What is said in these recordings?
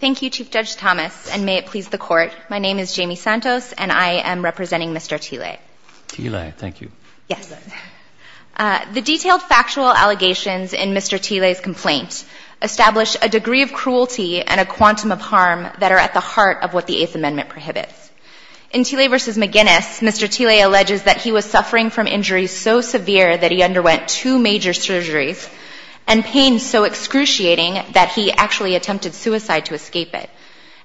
Thank you, Chief Judge Thomas, and may it please the Court, my name is Jamie Santos and I am representing Mr. Tilei. Tilei, thank you. Yes. The detailed factual allegations in Mr. Tilei's complaint establish a degree of cruelty and a quantum of harm that are at the heart of what the Eighth Amendment prohibits. In Tilei v. McGinnis, Mr. Tilei alleges that he was suffering from injuries so severe that he underwent two major surgeries and pain so excruciating that he actually attempted suicide to escape it.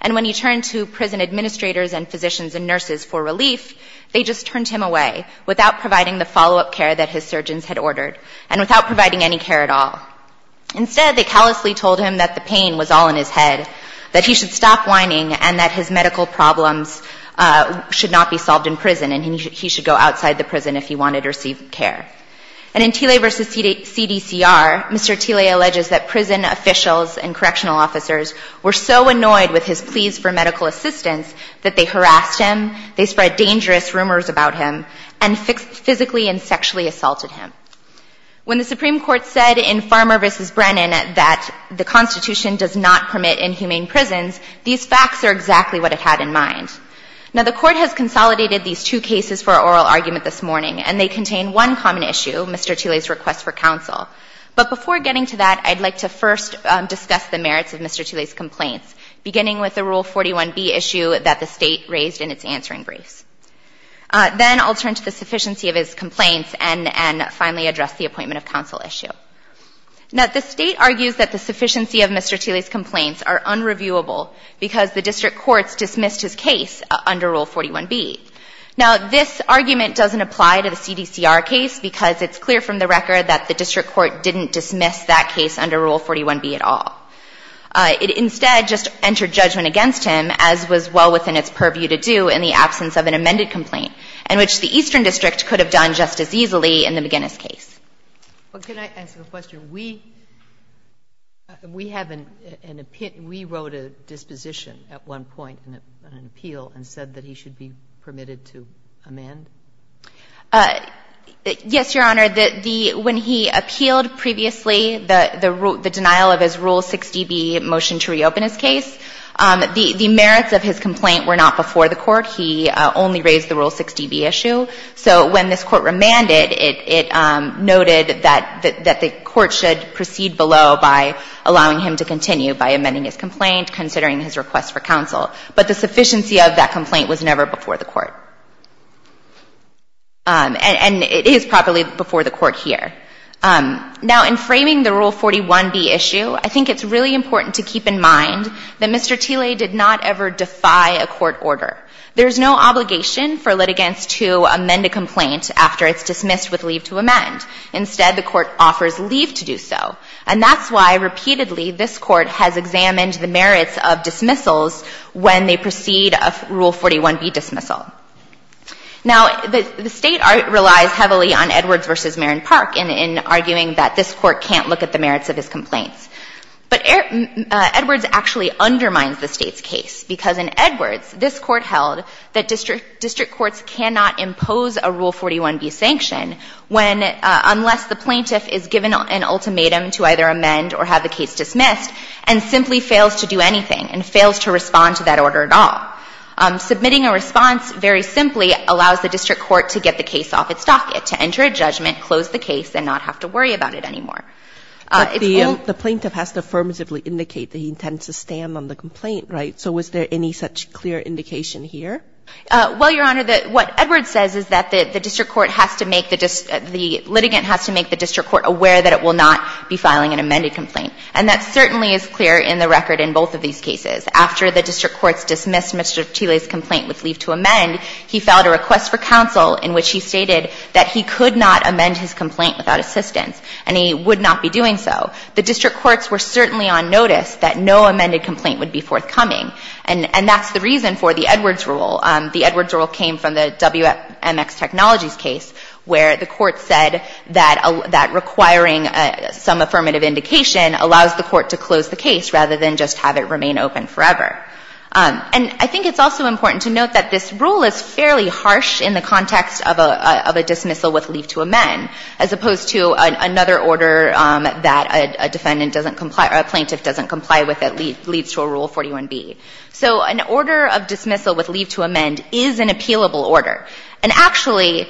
And when he turned to prison administrators and physicians and nurses for relief, they just turned him away without providing the follow-up care that his surgeons had ordered and without providing any care at all. Instead, they callously told him that the pain was all in his head, that he should stop whining and that his medical problems should not be solved in prison and that he should go outside the prison if he wanted to receive care. And in Tilei v. CDCR, Mr. Tilei alleges that prison officials and correctional officers were so annoyed with his pleas for medical assistance that they harassed him, they spread dangerous rumors about him, and physically and sexually assaulted him. When the Supreme Court said in Farmer v. Brennan that the Constitution does not permit inhumane prisons, these facts are exactly what it had in mind. Now, the Court has consolidated these two cases for oral argument this morning, and they contain one common issue, Mr. Tilei's request for counsel. But before getting to that, I'd like to first discuss the merits of Mr. Tilei's complaints, beginning with the Rule 41B issue that the State raised in its answering briefs. Then I'll turn to the sufficiency of his complaints and finally address the appointment of counsel issue. Now, the State argues that the sufficiency of Mr. Tilei's complaints are unreviewable because the district courts dismissed his case under Rule 41B. Now, this argument doesn't apply to the CDCR case because it's clear from the record that the district court didn't dismiss that case under Rule 41B at all. It instead just entered judgment against him, as was well within its purview to do in the absence of an amended complaint, in which the Eastern District could have done just as easily in the McGinnis case. Well, can I ask a question? We have an — we wrote a disposition at one point in an appeal and said that he should be permitted to amend? Yes, Your Honor. The — when he appealed previously the denial of his Rule 60B motion to reopen his case, the merits of his complaint were not before the court. He only raised the Rule 60B issue. So when this court remanded, it noted that the court should proceed below by allowing him to continue by amending his complaint, considering his request for counsel. But the sufficiency of that complaint was never before the court. And it is probably before the court here. Now, in framing the Rule 41B issue, I think it's really important to keep in mind that the court does not ask for litigants to amend a complaint after it's dismissed with leave to amend. Instead, the court offers leave to do so. And that's why, repeatedly, this Court has examined the merits of dismissals when they proceed of Rule 41B dismissal. Now, the State relies heavily on Edwards v. Marin Park in arguing that this Court can't look at the merits of his complaints. But Edwards actually undermines the State's case, because in Edwards, this Court held that district courts cannot impose a Rule 41B sanction when unless the plaintiff is given an ultimatum to either amend or have the case dismissed, and simply fails to do anything and fails to respond to that order at all. Submitting a response very simply allows the district court to get the case off its docket, to enter a judgment, close the case, and not have to worry about it anymore. It's all the plaintiff has to affirmatively indicate that he intends to stand on the complaint, right? So was there any such clear indication here? Well, Your Honor, what Edwards says is that the district court has to make the district the litigant has to make the district court aware that it will not be filing an amended complaint. And that certainly is clear in the record in both of these cases. After the district courts dismissed Mr. Thiele's complaint with leave to amend, he filed a request for counsel in which he stated that he could not amend his complaint without assistance, and he would not be doing so. The district courts were certainly on notice that no amended complaint would be forthcoming. And that's the reason for the Edwards rule. The Edwards rule came from the WMX Technologies case where the court said that requiring some affirmative indication allows the court to close the case rather than just have it remain open forever. And I think it's also important to note that this rule is fairly harsh in the context of a dismissal with leave to amend, as opposed to another order that a defendant doesn't comply or a plaintiff doesn't comply with that leads to a Rule 41b. So an order of dismissal with leave to amend is an appealable order. And actually,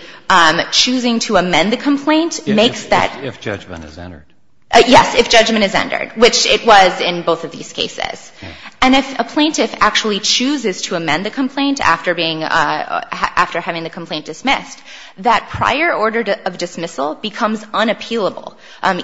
choosing to amend the complaint makes that the case. Kennedy, if judgment is entered. Yes, if judgment is entered, which it was in both of these cases. And if a plaintiff actually chooses to amend the complaint after being – after having the complaint dismissed, that prior order of dismissal becomes unappealable,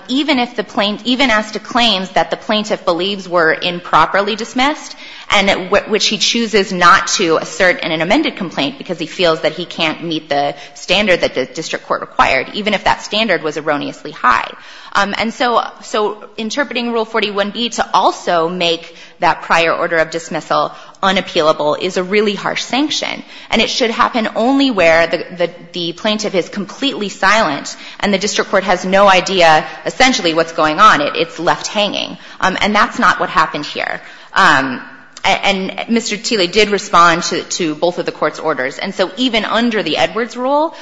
even if the plaintiff – even as to claims that the plaintiff believes were improperly dismissed and which he chooses not to assert in an amended complaint because he feels that he can't meet the standard that the district court required, even if that standard was erroneously high. And so interpreting Rule 41b to also make that prior order of dismissal unappealable is a really harsh sanction. And it should happen only where the plaintiff is completely silent and the district court has no idea, essentially, what's going on. It's left hanging. And that's not what happened here. And Mr. Thiele did respond to both of the Court's orders. And so even under the Edwards Rule,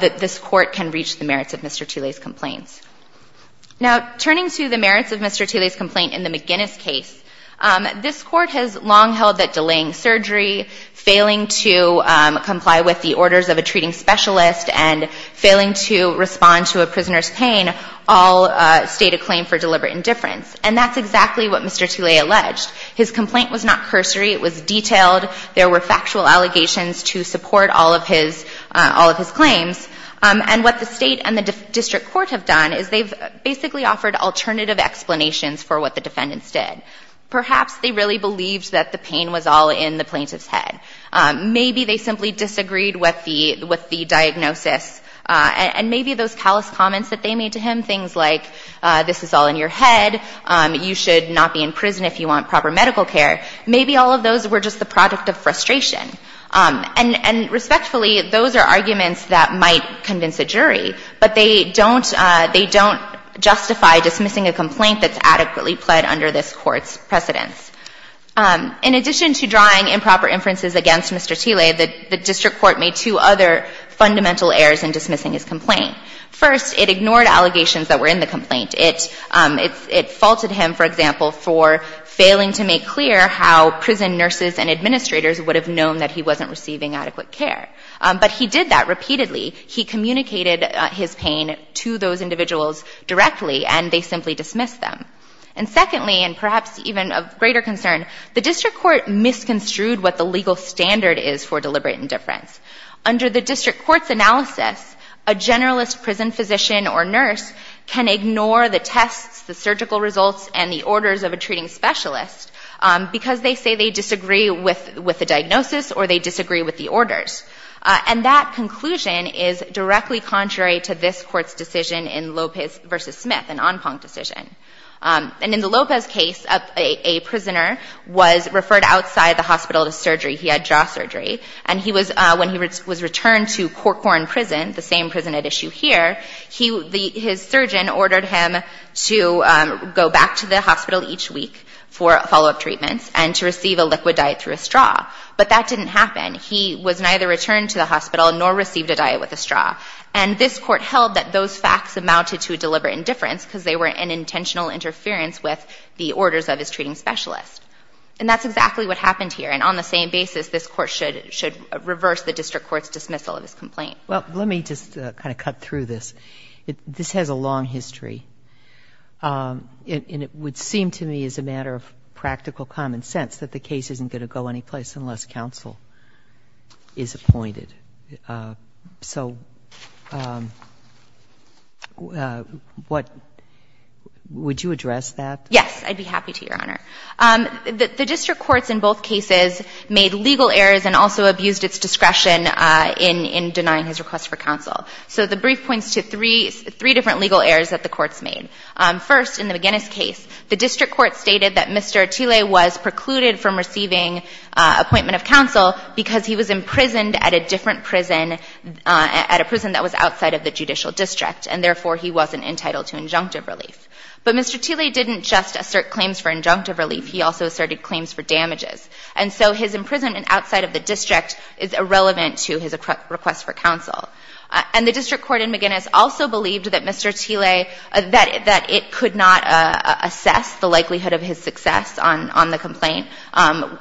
this Court can reach the merits of Mr. Thiele's complaints. Now, turning to the merits of Mr. Thiele's complaint in the McGinnis case, this Court has long held that delaying surgery, failing to comply with the orders of a treating specialist, and failing to respond to a prisoner's pain all state a claim for deliberate indifference. And that's exactly what Mr. Thiele alleged. His complaint was not cursory. It was detailed. There were factual allegations to support all of his claims. And what the State and the district court have done is they've basically offered alternative explanations for what the defendants did. Perhaps they really believed that the pain was all in the plaintiff's head. Maybe they simply disagreed with the diagnosis. And maybe those callous comments that they made to him, things like, this is all in your head, you should not be in prison if you want proper medical care, maybe all of those were just the product of frustration. And respectfully, those are arguments that might convince a jury, but they don't they don't justify dismissing a complaint that's adequately pled under this Court's precedence. In addition to drawing improper inferences against Mr. Thiele, the district court made two other fundamental errors in dismissing his complaint. First, it ignored allegations that were in the complaint. It faulted him, for example, for failing to make clear how prison nurses and administrators would have known that he wasn't receiving adequate care. But he did that repeatedly. He communicated his pain to those individuals directly, and they simply dismissed them. And secondly, and perhaps even of greater concern, the district court misconstrued what the legal standard is for deliberate indifference. Under the district court's analysis, a generalist prison physician or nurse can ignore the tests, the surgical results, and the orders of a treating specialist because they say they disagree with the diagnosis or they disagree with the orders. And that conclusion is directly contrary to this Court's decision in Lopez v. Smith, an en planc decision. And in the Lopez case, a prisoner was referred outside the hospital to surgery. He had jaw surgery. And he was, when he was returned to Corcoran Prison, the same prison at issue here, he, his surgeon ordered him to go back to the hospital each week for follow-up treatments and to receive a liquid diet through a straw. But that didn't happen. He was neither returned to the hospital nor received a diet with a straw. And this Court held that those facts amounted to deliberate indifference because they were an intentional interference with the orders of his treating specialist. And that's exactly what happened here. And on the same basis, this Court should, should reverse the district court's dismissal of his complaint. Well, let me just kind of cut through this. This has a long history. And it would seem to me, as a matter of practical common sense, that the case isn't going to go anyplace unless counsel is appointed. So, what, would you address that? Yes. I'd be happy to, Your Honor. The district courts in both cases made legal errors and also abused its discretion in denying his request for counsel. So the brief points to three, three different legal errors that the courts made. First, in the McGinnis case, the district court stated that Mr. Atile was precluded from a different prison, at a prison that was outside of the judicial district, and therefore he wasn't entitled to injunctive relief. But Mr. Atile didn't just assert claims for injunctive relief. He also asserted claims for damages. And so his imprisonment outside of the district is irrelevant to his request for counsel. And the district court in McGinnis also believed that Mr. Atile, that, that it could not assess the likelihood of his success on, on the complaint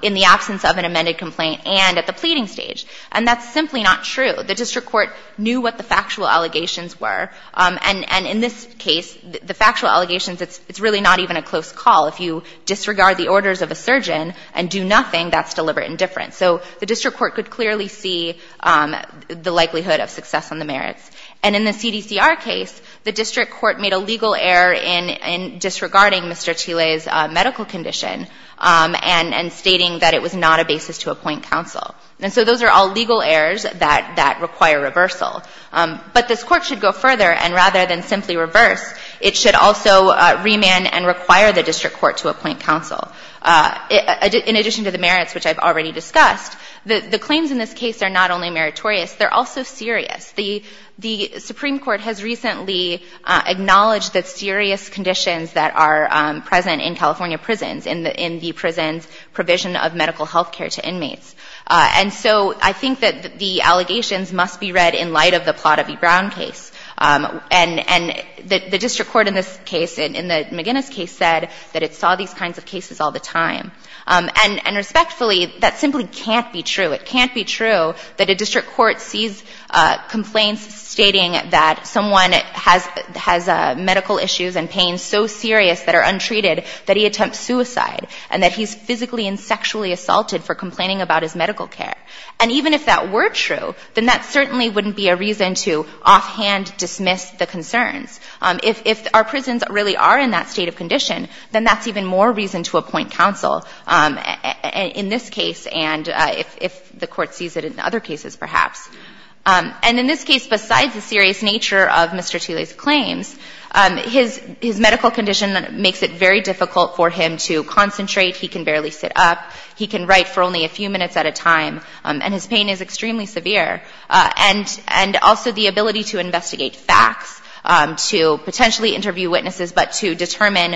in the absence of an injunctive relief. And that's simply not true. The district court knew what the factual allegations were. And in this case, the factual allegations, it's really not even a close call. If you disregard the orders of a surgeon and do nothing, that's deliberate indifference. So the district court could clearly see the likelihood of success on the merits. And in the CDCR case, the district court made a legal error in, in disregarding Mr. Atile's medical condition and, and stating that it was not a basis to appoint counsel. And so those are all legal errors that, that require reversal. But this court should go further and rather than simply reverse, it should also remand and require the district court to appoint counsel. In addition to the merits, which I've already discussed, the, the claims in this case are not only meritorious, they're also serious. The, the Supreme Court has recently acknowledged that serious conditions that are present in California prisons, in the, in the prisons provide a serious provision of medical health care to inmates. And so I think that the allegations must be read in light of the Plata v. Brown case. And, and the, the district court in this case, in, in the McGinnis case said that it saw these kinds of cases all the time. And, and respectfully, that simply can't be true. It can't be true that a district court sees complaints stating that someone has, has medical issues and pains so serious that are untreated that he attempts suicide and that he's physically and sexually assaulted for complaining about his medical care. And even if that were true, then that certainly wouldn't be a reason to offhand dismiss the concerns. If, if our prisons really are in that state of condition, then that's even more reason to appoint counsel in this case and if, if the court sees it in other cases perhaps. And in this case, besides the serious nature of Mr. Thiele's claims, his, his medical condition makes it very difficult for him to concentrate. He can barely sit up. He can write for only a few minutes at a time. And his pain is extremely severe. And, and also the ability to investigate facts, to potentially interview witnesses, but to determine,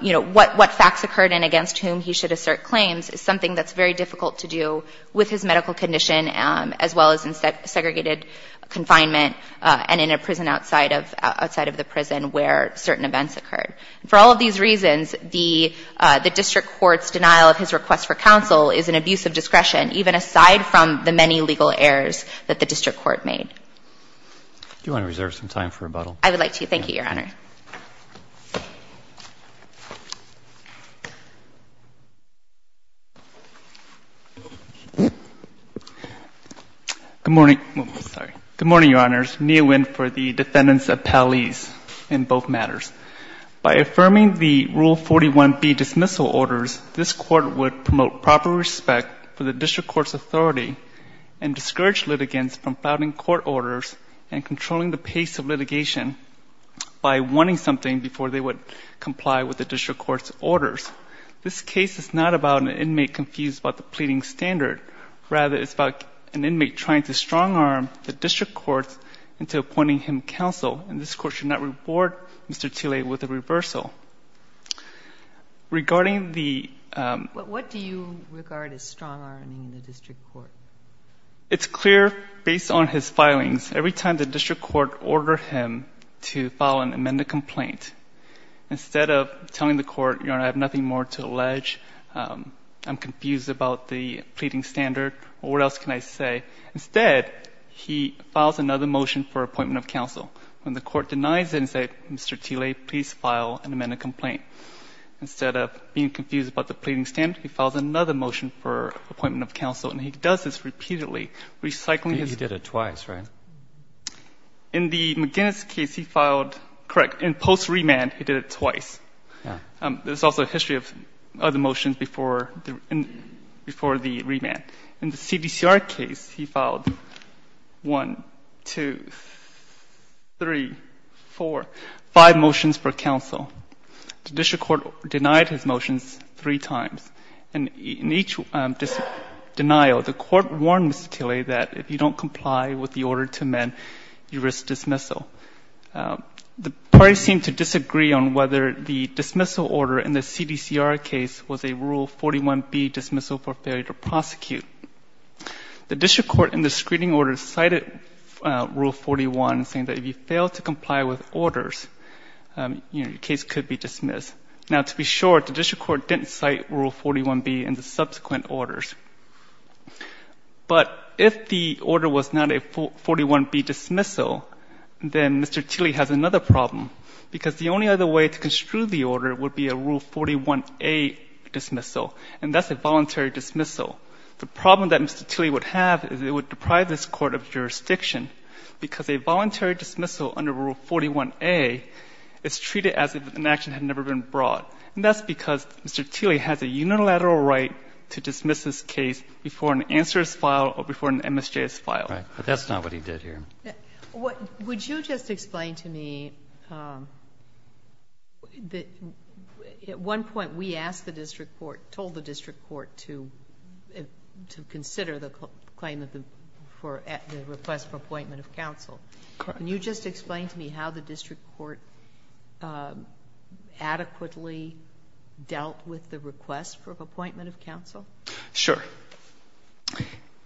you know, what, what facts occurred and against whom he should assert claims is something that's very difficult to do with his medical condition as well as in segregated confinement and in a prison outside of, outside of the prison where certain events occurred. For all of these reasons, the, the district court's denial of his request for counsel is an abuse of discretion, even aside from the many legal errors that the district court made. Do you want to reserve some time for rebuttal? I would like to. Thank you, Your Honor. Good morning. Sorry. Good morning, Your Honors. Neil Winn for the defendants appellees in both matters. By affirming the Rule 41B dismissal orders, this court would promote proper respect for the district court's authority and discourage litigants from filing court orders and controlling the pace of litigation by wanting something before they would comply with the district court's orders. This case is not about an inmate confused about the pleading standard. Rather, it's about an inmate trying to strong arm the district court into appointing him counsel, and this court should not reward Mr. Thiele with a reversal. Regarding the, um. What, what do you regard as strong arming the district court? It's clear based on his filings, every time the district court ordered him to file an amended complaint, instead of telling the court, Your Honor, I have nothing more to allege, um, I'm confused about the pleading standard, what else can I say? Instead, he files another motion for appointment of counsel. When the court denies it and said, Mr. Thiele, please file an amended complaint, instead of being confused about the pleading standard, he files another motion for appointment of counsel, and he does this repeatedly, recycling his. He did it twice, right? In the McGinnis case, he filed, correct, in post-remand, he did it twice. Yeah. Um, there's also a history of other motions before the, before the remand. In the McGinnis case, he filed one, two, three, four, five motions for counsel. The district court denied his motions three times, and in each, um, denial, the court warned Mr. Thiele that if you don't comply with the order to amend, you risk dismissal. Um, the parties seem to disagree on whether the dismissal order in the CDCR case was a Rule 41B dismissal for failure to prosecute. The district court in the screening order cited, uh, Rule 41, saying that if you fail to comply with orders, um, you know, your case could be dismissed. Now, to be sure, the district court didn't cite Rule 41B in the subsequent orders. But if the order was not a 41B dismissal, then Mr. Thiele has another problem, because the only other way to construe the order would be a Rule 41A dismissal, and that's a voluntary dismissal. The problem that Mr. Thiele would have is it would deprive this court of jurisdiction because a voluntary dismissal under Rule 41A is treated as if an action had never been brought. And that's because Mr. Thiele has a unilateral right to dismiss his case before an answer is filed or before an MSJ is filed. Right. But that's not what he did here. Would you just explain to me, um, that at one point we asked the district court, told the district court to consider the claim of the request for appointment of counsel. Can you just explain to me how the district court, um, adequately dealt with the request for appointment of counsel? Sure.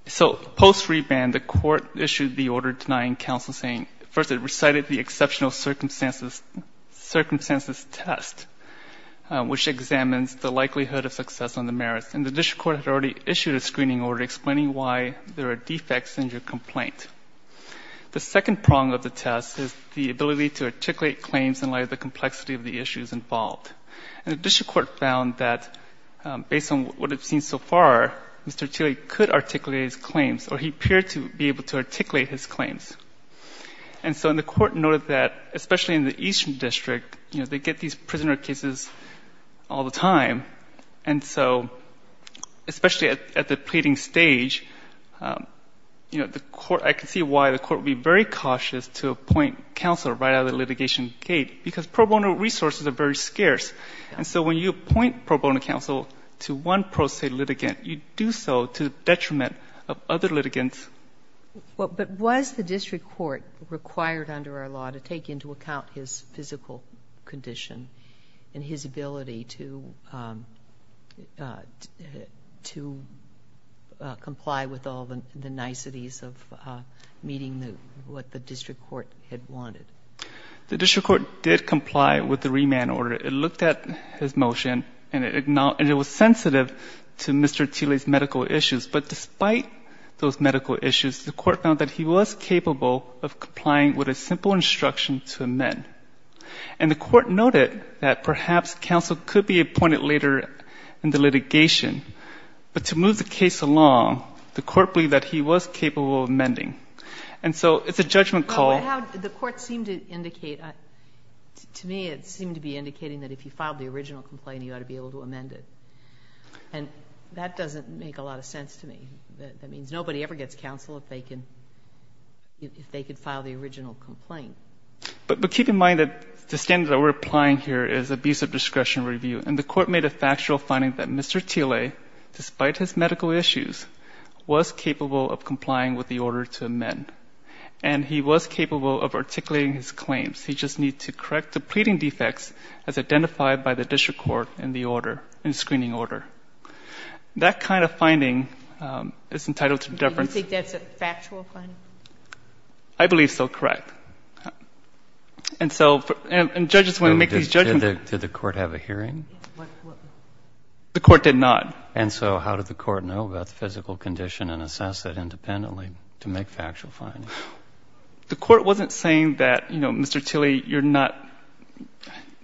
So post-reband, the court issued the order denying counsel, saying first it recited the exceptional circumstances test, which examines the likelihood of success on the merits. And the district court had already issued a screening order explaining why there are defects in your complaint. The second prong of the test is the ability to articulate claims in light of the complexity of the issues involved. And the district court found that, um, based on what we've seen so far, Mr. Thiele could articulate his claims, or he appeared to be able to articulate his claims. And so the court noted that, especially in the Eastern District, you know, they get these prisoner cases all the time. And so, especially at the pleading stage, um, you know, the court, I can see why the court would be very cautious to appoint counsel right out of the litigation gate, because pro bono resources are very scarce. And so when you appoint pro bono counsel to one pro se litigant, you do so to detriment of other litigants. Well, but was the district court required under our law to take into account his physical condition and his ability to, um, to comply with all the niceties of meeting what the district court had wanted? The district court did comply with the remand order. It looked at his motion and it was sensitive to Mr Thiele's medical issues. But despite those medical issues, the court found that he was capable of complying with a simple instruction to amend. And the court noted that perhaps counsel could be appointed later in the litigation. But to move the case along, the court believed that he was capable of amending. And so it's a judgment call. The court seemed to indicate to me, it seemed to be indicating that if you filed the original complaint, you ought to be able to amend it. And that doesn't make a lot of sense to me. That means nobody ever gets counsel if they can, if they could file the original complaint, but keep in mind that the standard that we're applying here is abusive discretion review. And the court made a factual finding that Mr Thiele, despite his medical issues, was capable of complying with the order to amend. And he was capable of articulating his claims. He just needs to correct the pleading defects as identified by the district court in the order in screening order. That kind of finding, um, is that a factual finding? I believe so, correct. And so, and judges want to make these judgments. Did the court have a hearing? The court did not. And so how did the court know about the physical condition and assess it independently to make factual findings? The court wasn't saying that, you know, Mr. Thiele, you're not,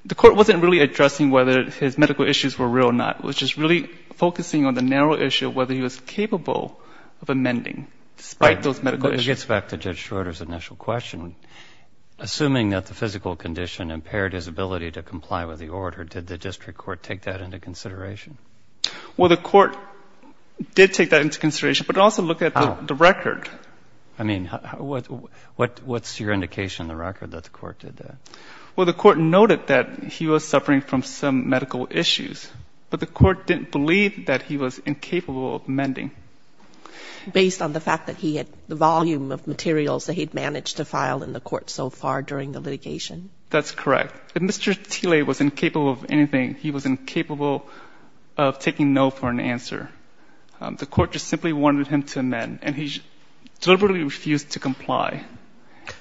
the court wasn't really addressing whether his medical issues were real or not. It was just really focusing on the narrow issue of whether he was capable of amending, despite those medical issues. It gets back to Judge Schroeder's initial question. Assuming that the physical condition impaired his ability to comply with the order, did the district court take that into consideration? Well, the court did take that into consideration, but also look at the record. I mean, what, what, what's your indication in the record that the court did that? Well, the court noted that he was suffering from some medical issues, but the court did state that he was incapable of amending. Based on the fact that he had the volume of materials that he'd managed to file in the court so far during the litigation? That's correct. If Mr. Thiele was incapable of anything, he was incapable of taking no for an answer. The court just simply wanted him to amend, and he deliberately refused to comply.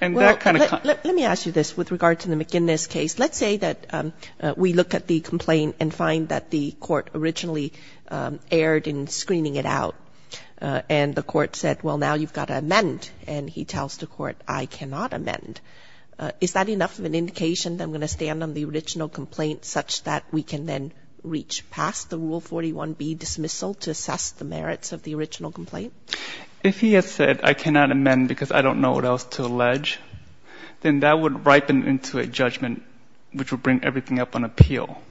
And that kind of... Let me ask you this with regard to the McInnes case. Let's say that we look at the case that was aired and screening it out, and the court said, well, now you've got to amend, and he tells the court, I cannot amend. Is that enough of an indication that I'm going to stand on the original complaint such that we can then reach past the Rule 41b dismissal to assess the merits of the original complaint? If he had said, I cannot amend because I don't know what else to allege, then that would ripen into a judgment which would bring everything up on appeal.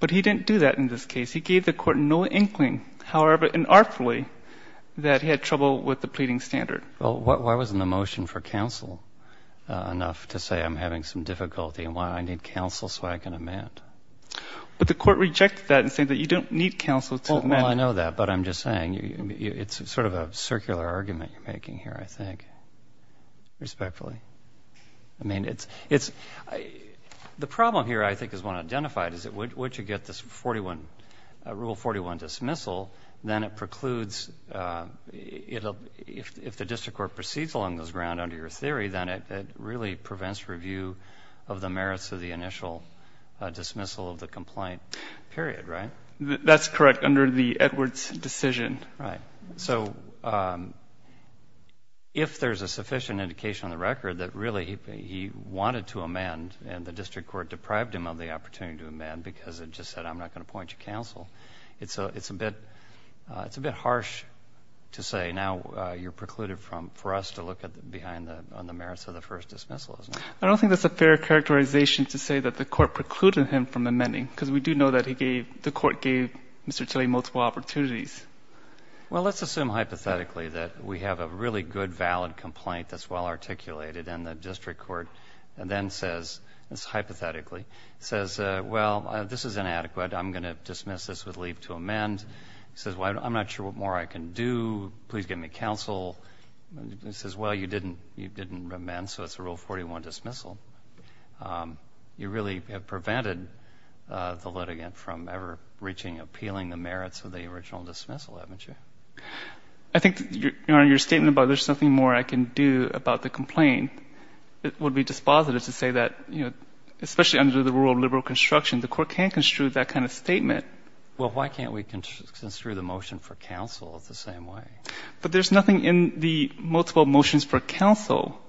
But he didn't do that in this case. He gave the court no inkling, however unartfully, that he had trouble with the pleading standard. Well, why wasn't the motion for counsel enough to say, I'm having some difficulty and why I need counsel so I can amend? But the court rejected that in saying that you don't need counsel to amend. Well, I know that, but I'm just saying it's sort of a circular argument you're making here, I think, respectfully. I mean, it's... The problem here, I think, is one identified, is that once you get this Rule 41 dismissal, then it precludes, if the district court proceeds along those grounds under your theory, then it really prevents review of the merits of the initial dismissal of the complaint period, right? That's correct, under the Edwards decision. So if there's a sufficient indication on the record that really he wanted to amend and the district court deprived him of the opportunity to amend because it just said, I'm not going to appoint you counsel, it's a bit harsh to say, now you're precluded for us to look behind on the merits of the first dismissal, isn't it? I don't think that's a fair characterization to say that the court precluded him from amending because we do know that the court gave Mr. Tilley multiple opportunities. Well, let's assume hypothetically that we have a really good, valid complaint that's well articulated and the district court then says, this is hypothetically, says, well, this is inadequate. I'm going to dismiss this with leave to amend. He says, well, I'm not sure what more I can do. Please give me counsel. He says, well, you didn't amend, so it's a Rule 41 dismissal. You really have prevented the litigant from ever reaching, appealing the merits of the original dismissal, haven't you? I think, Your Honor, your statement about there's nothing more I can do about the complaint would be dispositive to say that, you know, especially under the rule of liberal construction, the court can't construe that kind of statement. Well, why can't we construe the motion for counsel the same way? But there's nothing in the multiple motions for counsel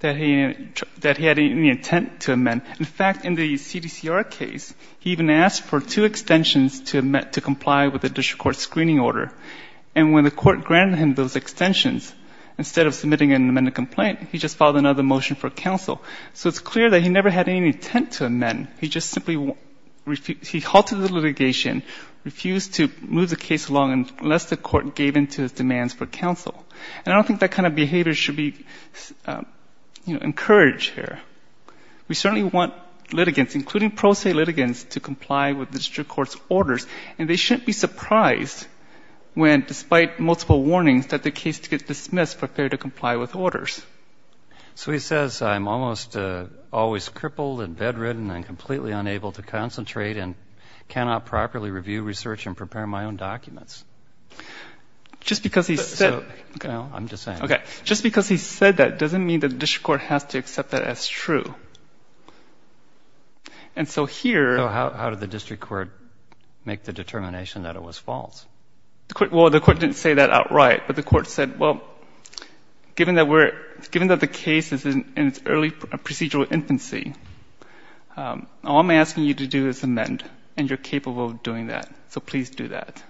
that he had any intent to amend. In fact, in the CDCR case, he even asked for two extensions to comply with the district court's screening order. And when the court granted him those extensions, instead of submitting an amended complaint, he just filed another motion for counsel. So it's clear that he never had any intent to amend. He just simply refused to, he halted the litigation, refused to move the case along unless the court gave in to his demands for counsel. And I don't think that kind of behavior should be, you know, encouraged here. We certainly want litigants, including pro se litigants, to comply with the district court's orders. And they shouldn't be surprised when, despite multiple warnings, that the case gets dismissed for failure to comply with orders. So he says, I'm almost always crippled and bedridden and completely unable to concentrate and cannot properly review research and prepare my own documents. Just because he said that doesn't mean that the district court has to accept that as true. And so here... So how did the district court make the determination that it was false? Well, the court didn't say that outright. But the court said, well, given that we're, given that the case is in its early procedural infancy, all I'm asking you to do is amend and you're capable of doing that. So please do that.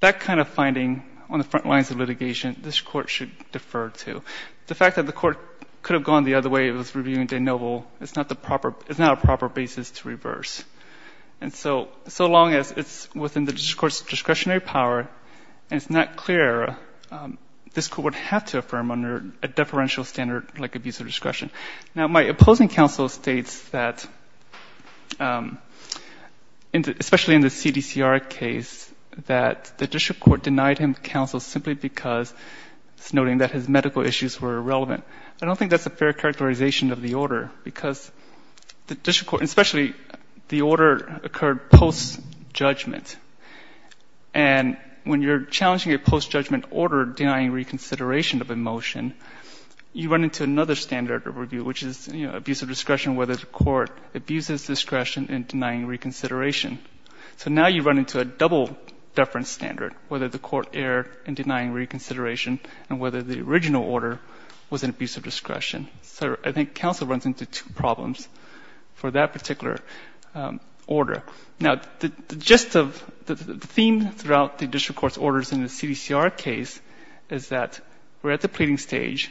That kind of finding on the front lines of litigation, this court should defer to. The fact that the court could have gone the other way, it was reviewing de novo, it's not the proper, it's not a proper basis to reverse. And so, so long as it's within the district court's discretionary power and it's not clear, this court would have to affirm under a deferential standard like abuse of discretion. Now, my opposing counsel states that, especially in the CDCR case, that the district court denied him counsel simply because, noting that his medical issues were irrelevant. I don't think that's a fair characterization of the order, because the district court, especially the order occurred post-judgment. And when you're challenging a post-judgment order denying reconsideration of a motion, you run into another standard of review, which is abuse of discretion, whether the court abuses discretion in denying reconsideration. So now you run into a double-deference standard, whether the court erred in denying reconsideration and whether the original order was an abuse of discretion. So I think counsel runs into two problems for that particular order. Now, the gist of, the theme throughout the district court's orders in the CDCR case is that we're at the pleading stage.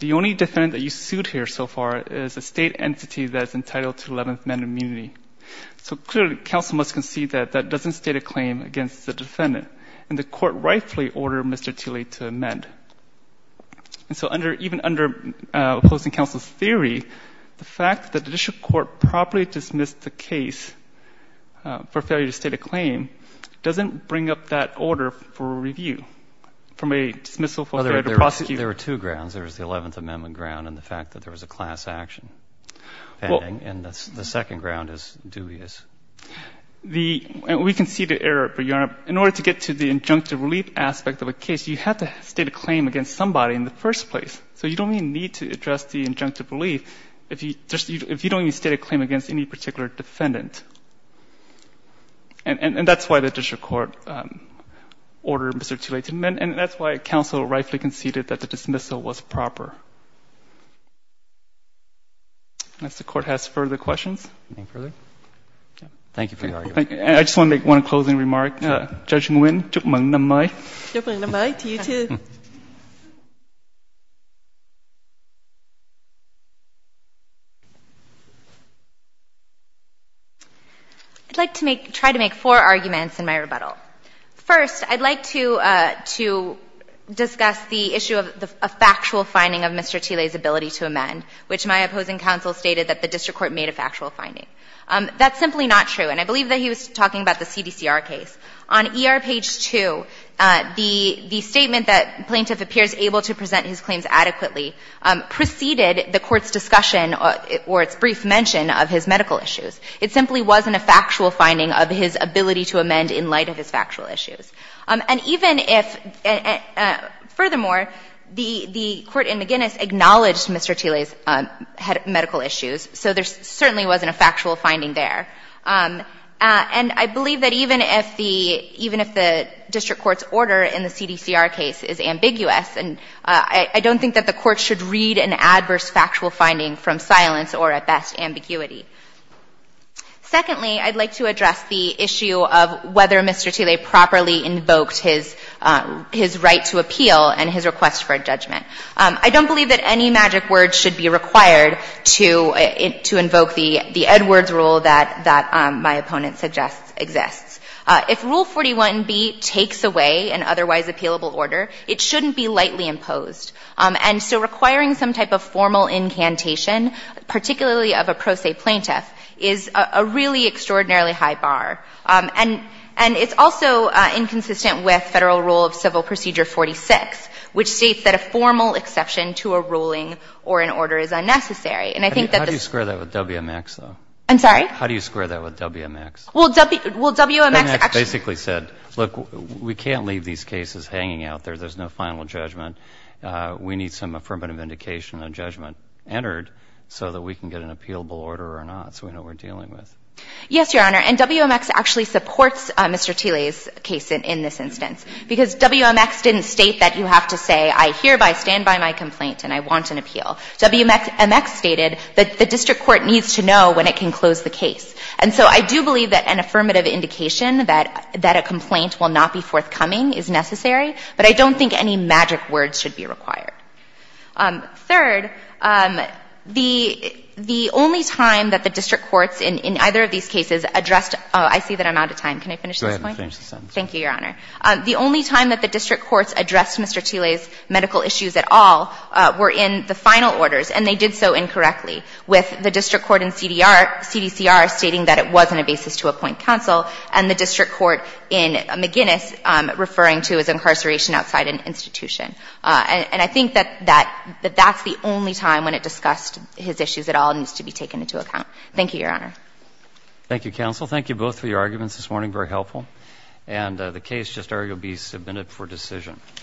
The only defendant that you sued here so far is a State entity that's entitled to Eleventh Amendment immunity. So clearly, counsel must concede that that doesn't state a claim against the defendant. And the court rightfully ordered Mr. Tilley to amend. And so under, even under opposing counsel's theory, the fact that the district court properly dismissed the case for failure to state a claim doesn't bring up that order for review from a dismissal for failure to prosecute. There were two grounds. There was the Eleventh Amendment ground and the fact that there was a class action pending. And the second ground is dubious. The, we conceded error, Your Honor. In order to get to the injunctive relief aspect of a case, you have to state a claim against somebody in the first place. So you don't even need to address the injunctive relief if you don't even state a claim against any particular defendant. And that's why the district court ordered Mr. Tilley to amend. And that's why counsel rightfully conceded that the dismissal was proper. Unless the Court has further questions. Thank you for your argument. I just want to make one closing remark. Judge Nguyen, chúc mừng năm mới. Chúc mừng năm mới. To you, too. I'd like to make, try to make four arguments in my rebuttal. First, I'd like to, to discuss the issue of a factual finding of Mr. Tilley's ability to amend, which my opposing counsel stated that the district court made a factual finding. That's simply not true. And I believe that he was talking about the CDCR case. On ER page 2, the, the statement that plaintiff appears able to present his claims adequately preceded the Court's discussion or its brief mention of his medical issues. It simply wasn't a factual finding of his ability to amend in light of his factual issues. And even if, furthermore, the, the court in McGinnis acknowledged Mr. Tilley's medical issues, so there certainly wasn't a factual finding there. And I believe that even if the, even if the district court's order in the CDCR case is ambiguous, and I don't think that the Court should read an adverse factual finding from silence or, at best, ambiguity. Secondly, I'd like to address the issue of whether Mr. Tilley properly invoked his, his right to appeal and his request for a judgment. I don't believe that any magic word should be required to, to invoke the, the Edwards rule that, that my opponent suggests exists. If Rule 41B takes away an otherwise appealable order, it shouldn't be lightly imposed. And so requiring some type of formal incantation, particularly of a pro se plaintiff, is a, a really extraordinarily high bar. And, and it's also inconsistent with Federal Rule of Civil Procedure 46, which states that a formal exception to a ruling or an order is unnecessary. And I think that this ---- Breyer. How do you square that with WMX, though? Saharsky. I'm sorry? Breyer. How do you square that with WMX? Saharsky. Well, W, well, WMX actually ---- Breyer. WMX basically said, look, we can't leave these cases hanging out there. There's no final judgment. We need some affirmative indication of judgment entered so that we can get an appealable order or not, so we know what we're dealing with. Saharsky. Yes, Your Honor, and WMX actually supports Mr. Thiele's case in, in this instance because WMX didn't state that you have to say, I hereby stand by my complaint and I want an appeal. WMX stated that the district court needs to know when it can close the case. And so I do believe that an affirmative indication that, that a complaint will not be forthcoming is necessary, but I don't think any magic words should be required. Third, the, the only time that the district courts in, in either of these cases addressed ---- I see that I'm out of time. Can I finish this point? Go ahead and finish the sentence. Thank you, Your Honor. The only time that the district courts addressed Mr. Thiele's medical issues at all were in the final orders, and they did so incorrectly, with the district court in CDR stating that it wasn't a basis to appoint counsel, and the district court in McGinnis referring to as incarceration outside an institution. And I think that, that, that that's the only time when it discussed his issues at all and needs to be taken into account. Thank you, Your Honor. Thank you, counsel. Thank you both for your arguments this morning, very helpful. And the case just arguably submitted for decision.